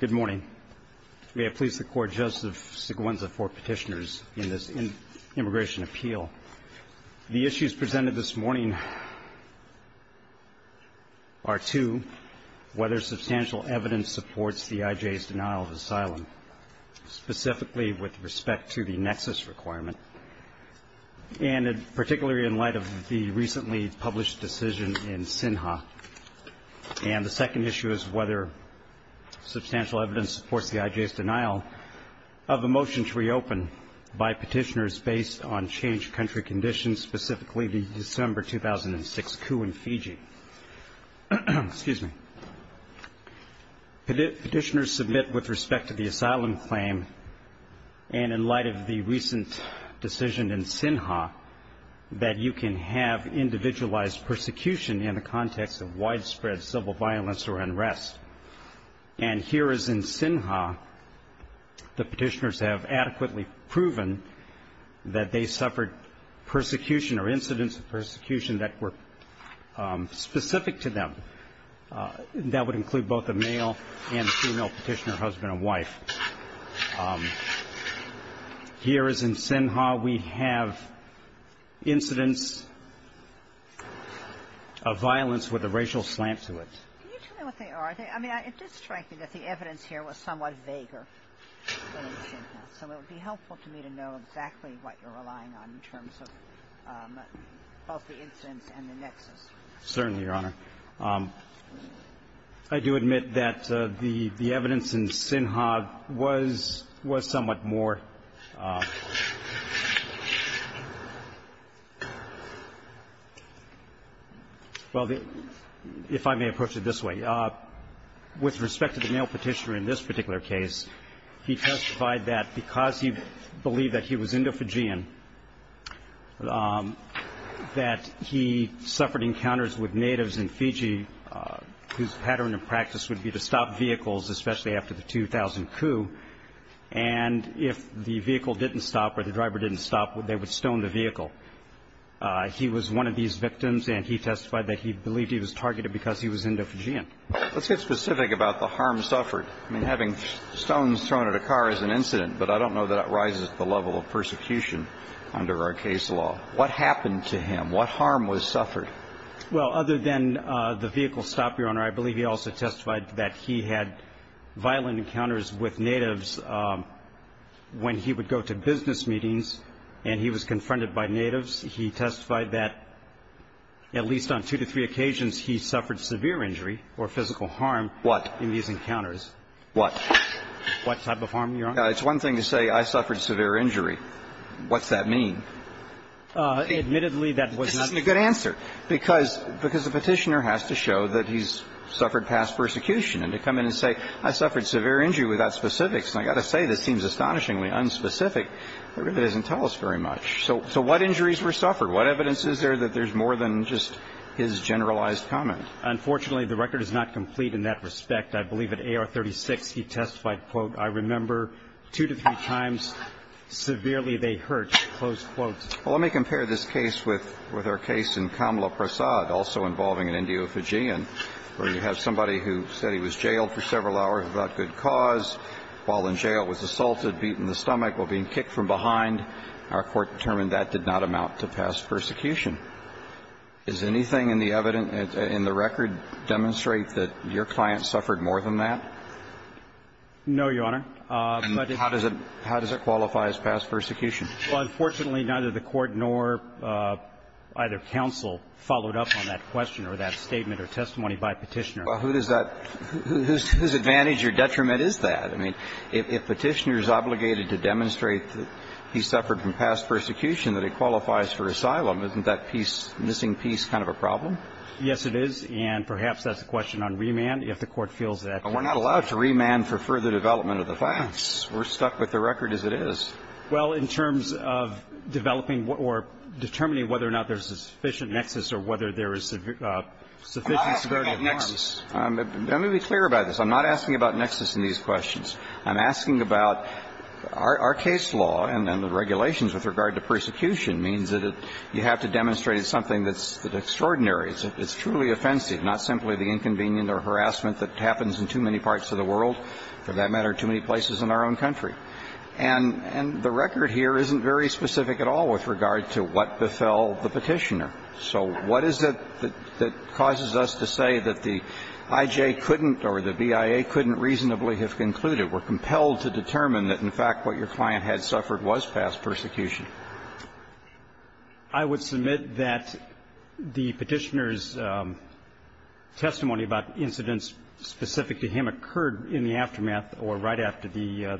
Good morning. May it please the Court, Joseph Seguenza for Petitioners in this Immigration Appeal. The issues presented this morning are two, whether substantial evidence supports the CIJ's denial of asylum, specifically with respect to the nexus requirement, and particularly in light of the recently published decision in SINHA. And the second issue is whether substantial evidence supports the IJ's denial of a motion to reopen by petitioners based on changed country conditions, specifically the December 2006 coup in Fiji. Petitioners submit with respect to the asylum claim, and in light of the recent decision in the context of widespread civil violence or unrest. And here as in SINHA, the petitioners have adequately proven that they suffered persecution or incidents of persecution that were specific to them. That would include both a male and a female, a violence with a racial slant to it. Can you tell me what they are? I mean, it did strike me that the evidence here was somewhat vaguer than in SINHA. So it would be helpful to me to know exactly what you're relying on in terms of both the incidents and the nexus. Certainly, Your Honor. I do admit that the evidence in SINHA was somewhat more vague. Well, if I may approach it this way. With respect to the male petitioner in this particular case, he testified that because he believed that he was Indo-Fijian, that he suffered encounters with natives in Fiji whose pattern of practice would be to stop vehicles, especially after the 2000 coup. And if the vehicle didn't stop or the driver didn't stop, they would stone the vehicle. He was one of these victims, and he testified that he believed he was targeted because he was Indo-Fijian. Let's get specific about the harm suffered. I mean, having stones thrown at a car is an incident, but I don't know that it rises to the level of persecution under our case law. What happened to him? What harm was suffered? Well, other than the vehicle stop, Your Honor, I believe he also testified that he had violent encounters with natives when he would go to business meetings and he was confronted by natives. He testified that at least on two to three occasions he suffered severe injury or physical harm in these encounters. What type of harm, Your Honor? It's one thing to say, I suffered severe injury. What's that mean? Admittedly, that was not the case. This isn't a good answer, because the petitioner has to show that he's suffered past persecution, and to come in and say, I suffered severe injury without specifics, and I've got to say, this seems astonishingly unspecific, it really doesn't tell us very much. So what injuries were suffered? What evidence is there that there's more than just his generalized comment? Unfortunately, the record is not complete in that respect. I believe at AR-36, he testified, quote, I remember two to three times, severely they hurt, close quote. Well, let me compare this case with our case in Kamla Prasad, also involving an Indio-Fijian, where you have somebody who said he was jailed for several hours without good cause, while in jail was assaulted, beaten in the stomach, while being kicked from behind. Our Court determined that did not amount to past persecution. Is anything in the evidence, in the record, demonstrate that your client suffered more than that? No, Your Honor. How does it qualify as past persecution? Well, unfortunately, neither the Court nor either counsel followed up on that question or that statement or testimony by Petitioner. Well, who does that – whose advantage or detriment is that? I mean, if Petitioner is obligated to demonstrate that he suffered from past persecution, that it qualifies for asylum. Isn't that missing piece kind of a problem? Yes, it is. And perhaps that's a question on remand, if the Court feels that. But we're not allowed to remand for further development of the facts. We're stuck with the record as it is. Well, in terms of developing or determining whether or not there's a sufficient security of nexus or whether there is sufficient security of nexus – Let me be clear about this. I'm not asking about nexus in these questions. I'm asking about our case law and the regulations with regard to persecution means that you have to demonstrate something that's extraordinary, it's truly offensive, not simply the inconvenient or harassment that happens in too many parts of the world, for that matter, too many places in our own country. And the record here isn't very specific at all with regard to what befell the Petitioner. So what is it that causes us to say that the IJ couldn't or the BIA couldn't reasonably have concluded, were compelled to determine that, in fact, what your client had suffered was past persecution? I would submit that the Petitioner's testimony about incidents specific to him occurred in the aftermath or right after the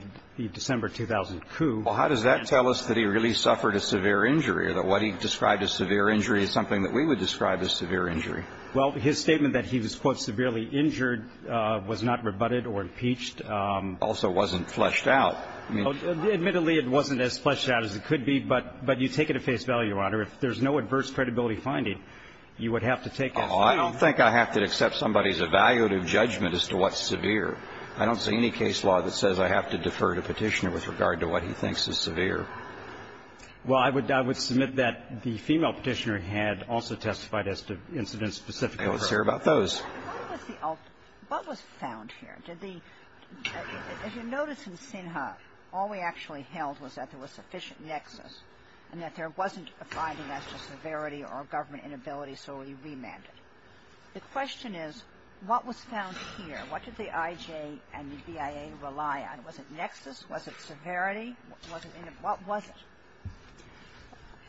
December 2000 coup. Well, how does that tell us that he really suffered a severe injury or that what he described as severe injury is something that we would describe as severe injury? Well, his statement that he was, quote, severely injured was not rebutted or impeached. Also wasn't fleshed out. Admittedly, it wasn't as fleshed out as it could be, but you take it at face value, Your Honor. If there's no adverse credibility finding, you would have to take it at face value. I don't think I have to accept somebody's evaluative judgment as to what's severe. I don't see any case law that says I have to defer to Petitioner with regard to what he thinks is severe. Well, I would submit that the female Petitioner had also testified as to incidents specific to her. I don't care about those. What was the ultimate --- what was found here? Did the -- if you notice in Sinha, all we actually held was that there was sufficient nexus and that there wasn't a finding as to severity or government inability, so we remanded. The question is, what was found here? What did the IJ and the BIA rely on? Was it nexus? Was it severity? Was it any of them? What was it?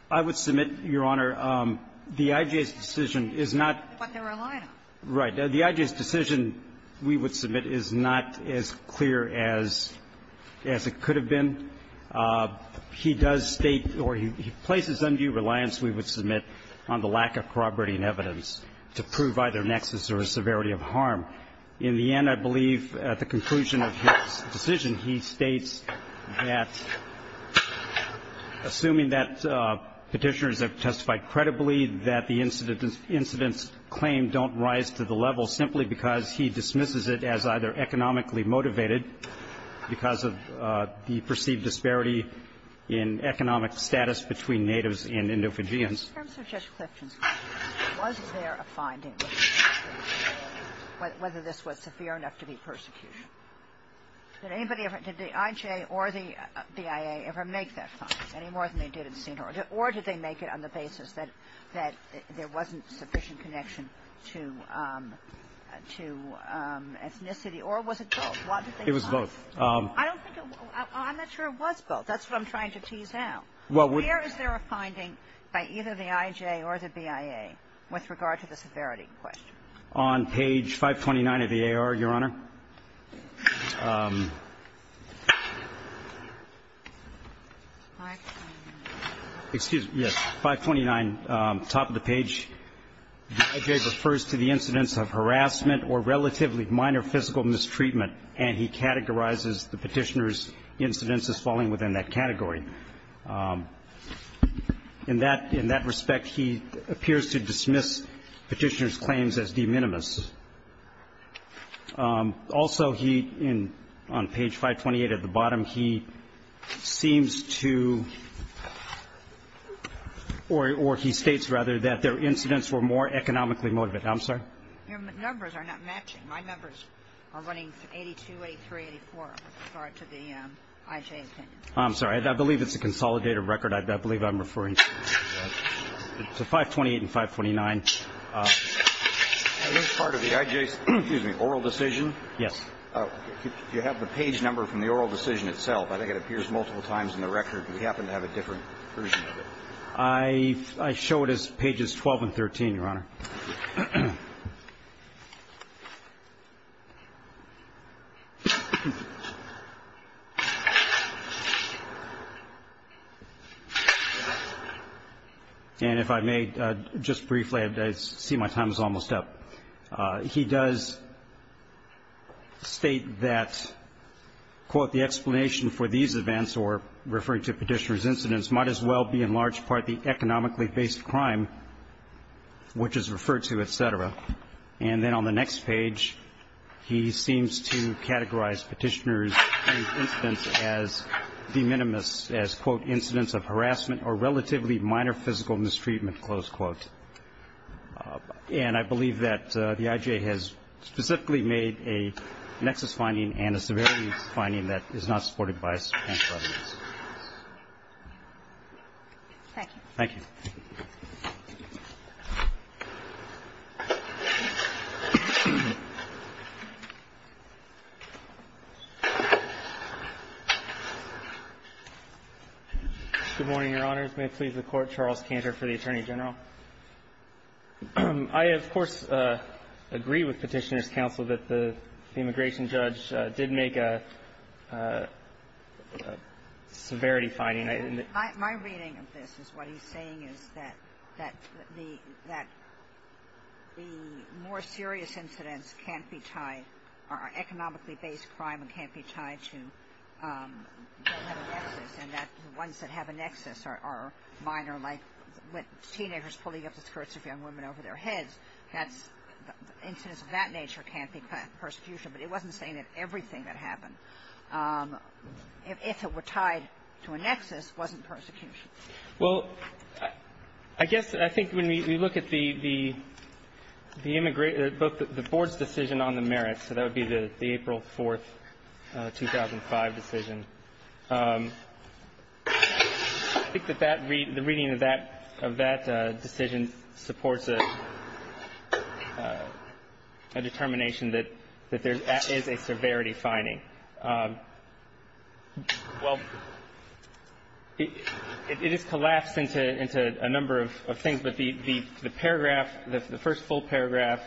I would submit, Your Honor, the IJ's decision is not --- But they're reliant on it. Right. The IJ's decision we would submit is not as clear as it could have been. He does state or he places undue reliance, we would submit, on the lack of corroborating evidence to prove either nexus or severity of harm. In the end, I believe, at the conclusion of his decision, he states that, assuming that Petitioners have testified credibly, that the incident's claim don't rise to the level simply because he dismisses it as either economically motivated because of the perceived disparity in economic status between natives and endophagians. In terms of Judge Clifton's claim, was there a finding whether this was severe enough to be persecution? Did anybody ever -- Did the IJ or the BIA ever make that claim, any more than they did at the scene? Or did they make it on the basis that there wasn't sufficient connection to ethnicity? Or was it both? It was both. I don't think it was -- I'm not sure it was both. That's what I'm trying to tease out. Well, we're -- By either the IJ or the BIA, with regard to the severity question. On page 529 of the AR, Your Honor, excuse me, yes, 529, top of the page, the IJ refers to the incidents of harassment or relatively minor physical mistreatment, and he categorizes the Petitioner's incidents as falling within that category. In that respect, he appears to dismiss Petitioner's claims as de minimis. Also, he, on page 528 at the bottom, he seems to, or he states, rather, that their incidents were more economically motivated. I'm sorry? Your numbers are not matching. My numbers are running 82, 83, 84, with regard to the IJ. I'm sorry. I believe it's a consolidated record. I believe I'm referring to 528 and 529. As part of the IJ's oral decision, you have the page number from the oral decision itself. I think it appears multiple times in the record. Do we happen to have a different version of it? I show it as pages 12 and 13, Your Honor. And if I may, just briefly, I see my time is almost up. He does state that, quote, the explanation for these events, or referring to Petitioner's incidents, were, in large part, the economically-based crime, which is referred to, et cetera. And then on the next page, he seems to categorize Petitioner's incidents as de minimis, as, quote, incidents of harassment or relatively minor physical mistreatment, close quote. And I believe that the IJ has specifically made a nexus finding and a severity finding that is not supported by the Petitioner's case. Thank you. Thank you. Good morning, Your Honors. May it please the Court, Charles Kantor for the Attorney General. I, of course, agree with Petitioner's counsel that the immigration judge did make a severity finding. My reading of this is what he's saying is that the more serious incidents can't be tied or are economically-based crime and can't be tied to, don't have a nexus, and that the ones that have a nexus are minor, like teenagers pulling up the skirts of young women over their heads. That's the incidents of that nature can't be prosecution. But he wasn't saying that everything that happened, if it were tied to a nexus, wasn't persecution. Well, I guess I think when we look at the immigration – the board's decision on the merits, so that would be the April 4th, 2005 decision, I think that that – the reading of that decision supports a determination that there is a severity finding. Well, it is collapsed into a number of things, but the paragraph – the first full paragraph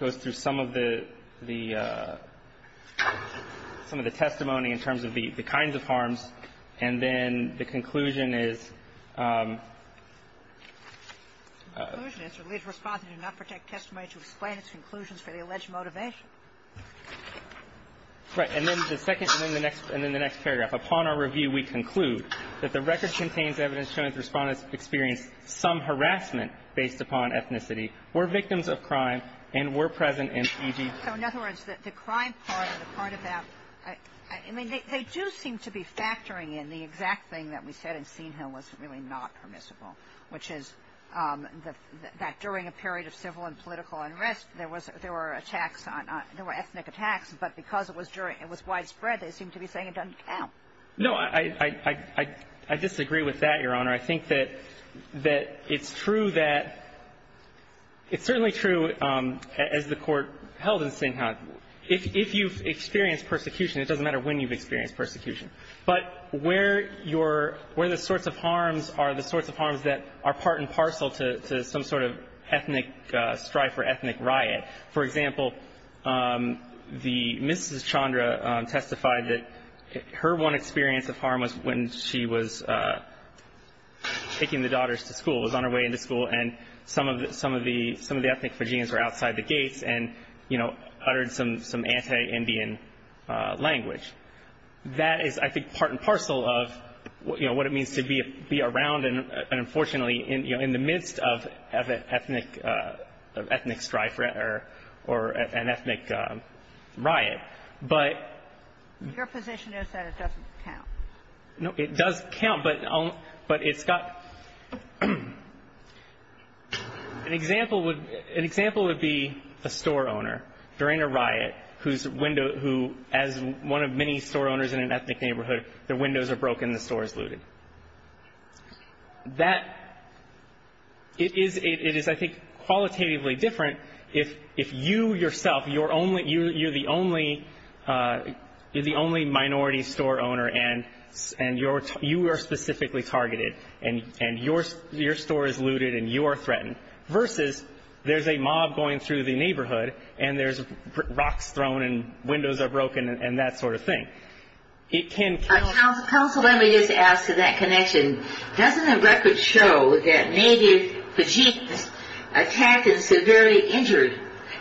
is some of the – some of the testimony in terms of the kinds of harms, and then the conclusion is – The conclusion is that the lead respondent did not protect testimony to explain its conclusions for the alleged motivation. Right. And then the second – and then the next paragraph, upon our review, we conclude that the record contains evidence showing the respondent experienced some harassment based upon ethnicity, were victims of crime, and were present in E.G. So, in other words, the crime part, the part of that – I mean, they do seem to be factoring in the exact thing that we said in Senehill was really not permissible, which is that during a period of civil and political unrest, there was – there were attacks on – there were ethnic attacks, but because it was during – it was widespread, they seem to be saying it doesn't count. No. I disagree with that, Your Honor. I think that – that it's true that – it's certainly true as the Court held in Senehill. If you've experienced persecution, it doesn't matter when you've experienced persecution, but where your – where the sorts of harms are, the sorts of harms that are part and parcel to some sort of ethnic strife or ethnic riot. For example, the – Mrs. Chandra testified that her one experience of harm was when she was taking the daughters to school, was on her way into school, and some of the – some of the – some of the ethnic Fijians were outside the gates and, you know, uttered some anti-Indian language. That is, I think, part and parcel of, you know, what it means to be around and, unfortunately, in the midst of ethnic strife or an ethnic riot. But – Your position is that it doesn't count. No, it does count, but it's got – an example would – an example would be a store owner during a riot whose window – who, as one of many store owners in an ethnic neighborhood, their windows are broken and the store is looted. That – it is, I think, qualitatively different if you yourself, you're only – you're the only – you're the only minority store owner and you are specifically targeted and your store is looted and you are threatened versus there's a mob going through the neighborhood and there's rocks thrown and windows are broken and that sort of thing. It can count. Counsel, let me just ask in that connection, doesn't the record show that native Fijians attacked a severely injured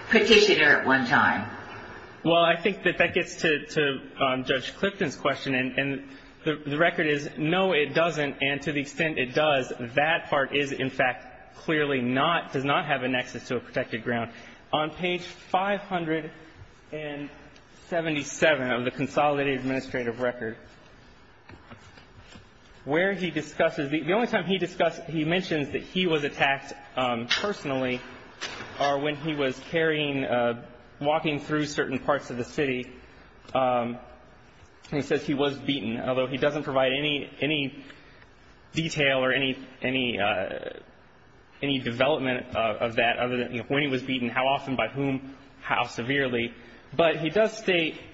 Petitioner at one time? Well, I think that that gets to Judge Clifton's question. And the record is, no, it doesn't, and to the extent it does, that part is, in fact, clearly not – does not have a nexus to a protected ground. On page 577 of the Consolidated Administrative Record, where he discusses – the only time he discusses – he mentions that he was attacked personally are when he was carrying – walking through certain parts of the city. He says he was beaten, although he doesn't provide any detail or any development of that other than when he was beaten, how often, by whom, how severely. But he does state –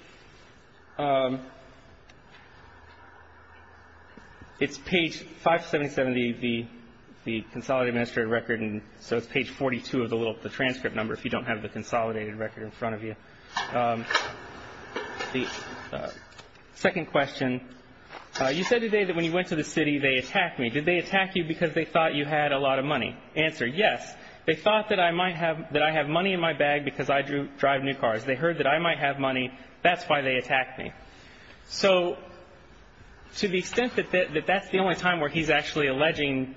it's page 577 of the Consolidated Administrative Record, and so it's page 42 of the transcript number if you don't have the consolidated record in front of you. The second question, you said today that when you went to the city they attacked me. Did they attack you because they thought you had a lot of money? Answer, yes. They thought that I might have – that I have money in my bag because I drive new cars. They heard that I might have money. That's why they attacked me. So to the extent that that's the only time where he's actually alleging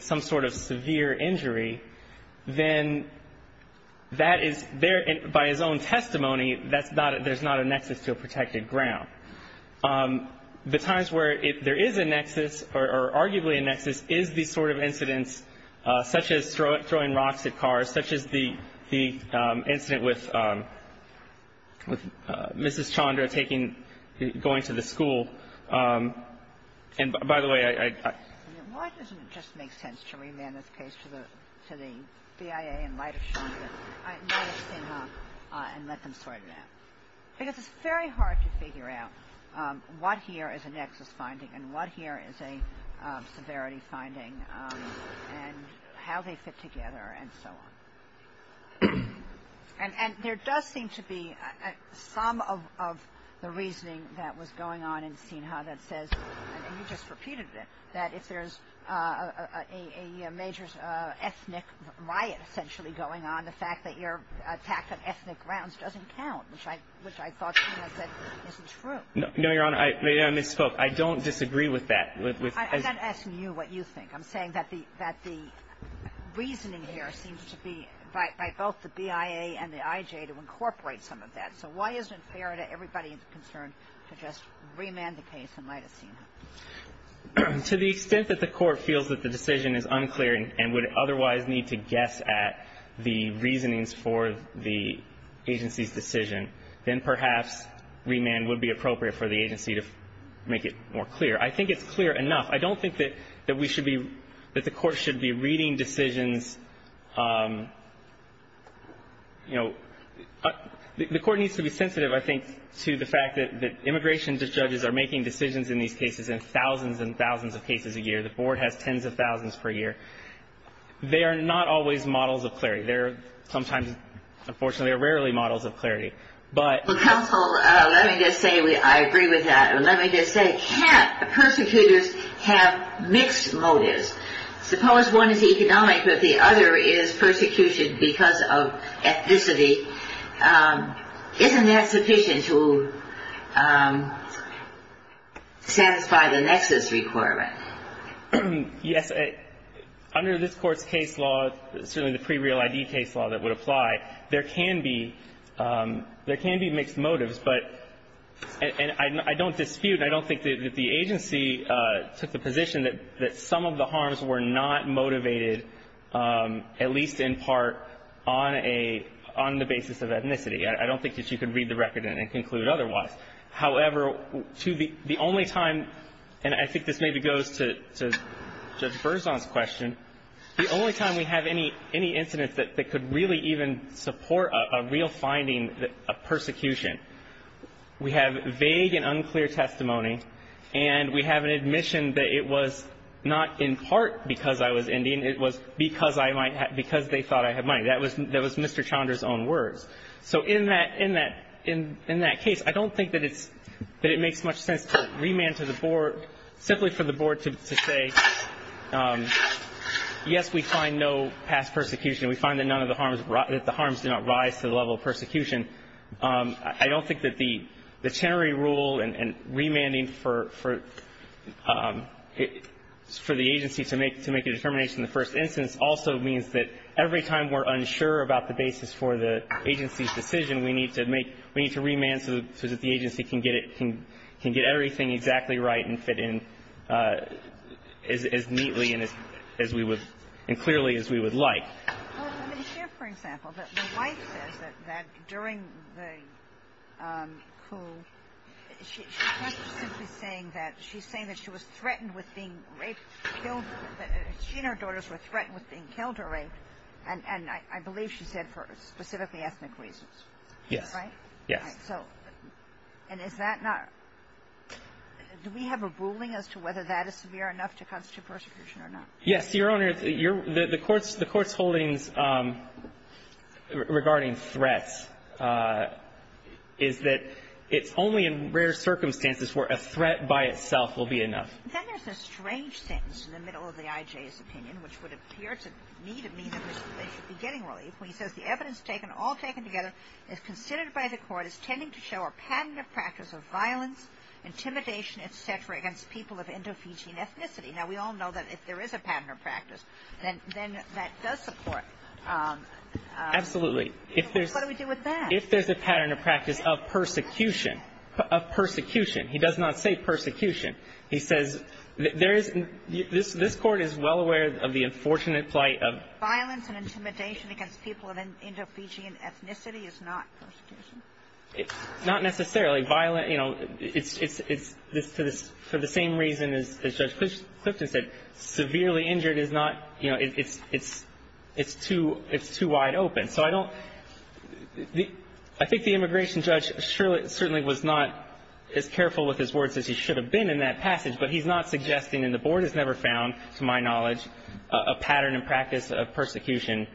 some sort of severe injury, then that is – by his own testimony, that's not – there's not a nexus to a protected ground. The times where there is a nexus or arguably a nexus is the sort of incidents such as throwing rocks at cars, such as the incident with Mrs. Chandra taking – going to the school. And by the way, I – Why doesn't it just make sense to remand this case to the BIA in light of Chandra and let them sort it out? Because it's very hard to figure out what here is a nexus finding and what here is a severity finding and how they fit together and so on. And there does seem to be some of the reasoning that was going on in Sinha that says – and you just repeated it – that if there's a major ethnic riot essentially going on, then the fact that you're attacked on ethnic grounds doesn't count, which I thought Sinha said isn't true. No, Your Honor. I misspoke. I don't disagree with that. I'm not asking you what you think. I'm saying that the reasoning here seems to be by both the BIA and the IJ to incorporate some of that. So why isn't it fair to everybody concerned to just remand the case in light of Sinha? To the extent that the Court feels that the decision is unclear and would otherwise need to guess at the reasonings for the agency's decision, then perhaps remand would be appropriate for the agency to make it more clear. I think it's clear enough. I don't think that we should be – that the Court should be reading decisions – the Court needs to be sensitive, I think, to the fact that immigration judges are making decisions in these cases in thousands and thousands of cases a year. The Board has tens of thousands per year. They are not always models of clarity. They're sometimes – unfortunately, they're rarely models of clarity. But – Well, counsel, let me just say I agree with that. Let me just say, can't persecutors have mixed motives? Suppose one is economic but the other is persecution because of ethnicity. Isn't that sufficient to satisfy the nexus requirement? Yes. Under this Court's case law, certainly the pre-real ID case law that would apply, there can be – there can be mixed motives. But – and I don't dispute, I don't think that the agency took the position that some of the harms were not motivated, at least in part, on a – on the basis of ethnicity. I don't think that you could read the record and conclude otherwise. However, to the only time – and I think this maybe goes to Judge Berzon's question – the only time we have any incident that could really even support a real finding of persecution, we have vague and unclear testimony, and we have an admission that it was not in part because I was Indian. It was because I might have – because they thought I had money. That was Mr. Chandra's own words. So in that case, I don't think that it makes much sense to remand to the board simply for the board to say, yes, we find no past persecution. We find that none of the harms – that the harms did not rise to the level of persecution. I don't think that the Chenery rule and remanding for the agency to make a determination in the first instance also means that every time we're unsure about the basis for the agency's decision, we need to make – we need to remand so that the agency can get it – can get everything exactly right and fit in as neatly and as we would – and clearly as we would like. Well, let me share, for example, that the wife says that during the coup, she's not simply saying that. She's saying that she was threatened with being raped, killed. She and her daughters were threatened with being killed or raped, and I believe she said for specifically ethnic reasons. Yes. Right? Yes. So – and is that not – do we have a ruling as to whether that is severe enough to constitute persecution or not? Yes, Your Honor. The Court's holdings regarding threats is that it's only in rare circumstances where a threat by itself will be enough. Then there's a strange sentence in the middle of the IJ's opinion, which would appear to me to mean that they should be getting relief, when he says the evidence taken, all taken together, is considered by the Court as tending to show a patented practice of violence, intimidation, et cetera, against people of Indo-Fijian ethnicity. Now, we all know that if there is a patented practice, then that does support – Absolutely. What do we do with that? If there's a patented practice of persecution – of persecution. He does not say persecution. He says there is – this Court is well aware of the unfortunate plight of – Violence and intimidation against people of Indo-Fijian ethnicity is not persecution? Not necessarily. It's for the same reason as Judge Clifton said. Severely injured is not – it's too wide open. So I don't – I think the immigration judge certainly was not as careful with his words as he should have been in that passage, but he's not suggesting, and the Board has never found, to my knowledge, a pattern and practice of persecution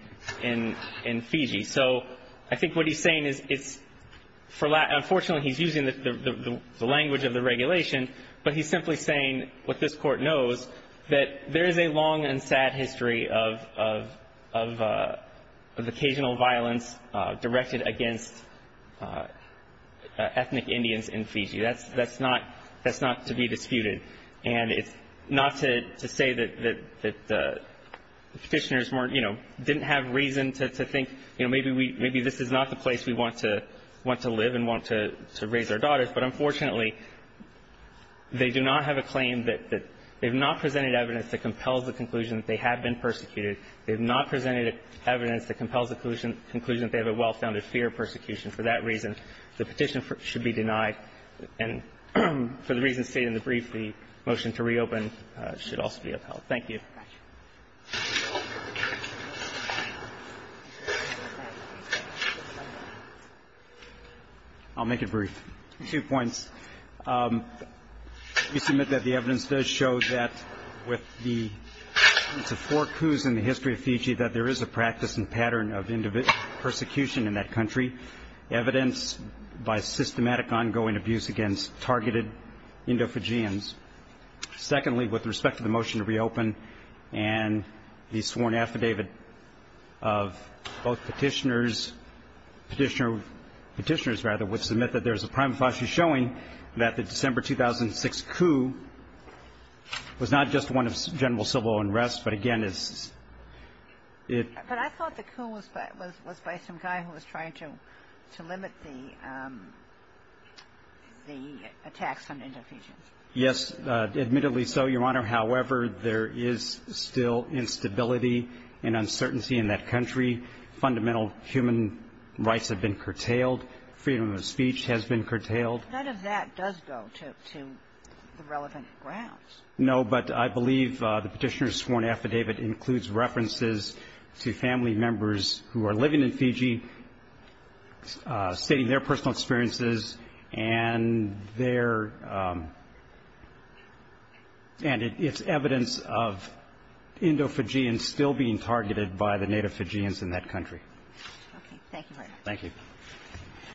in Fiji. So I think what he's saying is it's – unfortunately, he's using the language of the regulation, but he's simply saying what this Court knows, that there is a long and sad history of occasional violence directed against ethnic Indians in Fiji. That's not to be disputed. And it's not to say that the Petitioners weren't – you know, didn't have reason to think, you know, maybe we – maybe this is not the place we want to live and want to raise our daughters. But unfortunately, they do not have a claim that – they have not presented evidence that compels the conclusion that they have been persecuted. They have not presented evidence that compels the conclusion that they have a well-founded fear of persecution. For that reason, the petition should be denied. And for the reasons stated in the brief, the motion to reopen should also be upheld. Thank you. I'll make it brief. Two points. We submit that the evidence does show that with the four coups in the history of Fiji, that there is a practice and pattern of individual persecution in that country, evidence by systematic ongoing abuse against targeted Indo-Fijians. Secondly, with respect to the motion to reopen, and the sworn affidavit of both Petitioners – Petitioner – Petitioners, rather, would submit that there is a prima facie showing that the December 2006 coup was not just one of general civil unrest, but again, it's – it – to limit the – the attacks on Indo-Fijians. Yes, admittedly so, Your Honor. However, there is still instability and uncertainty in that country. Fundamental human rights have been curtailed. Freedom of speech has been curtailed. None of that does go to – to the relevant grounds. No, but I believe the Petitioner's sworn affidavit includes references to family members who are living in Fiji, stating their personal experiences, and their – and it's evidence of Indo-Fijians still being targeted by the Native Fijians in that country. Okay. Thank you, Your Honor. Thank you.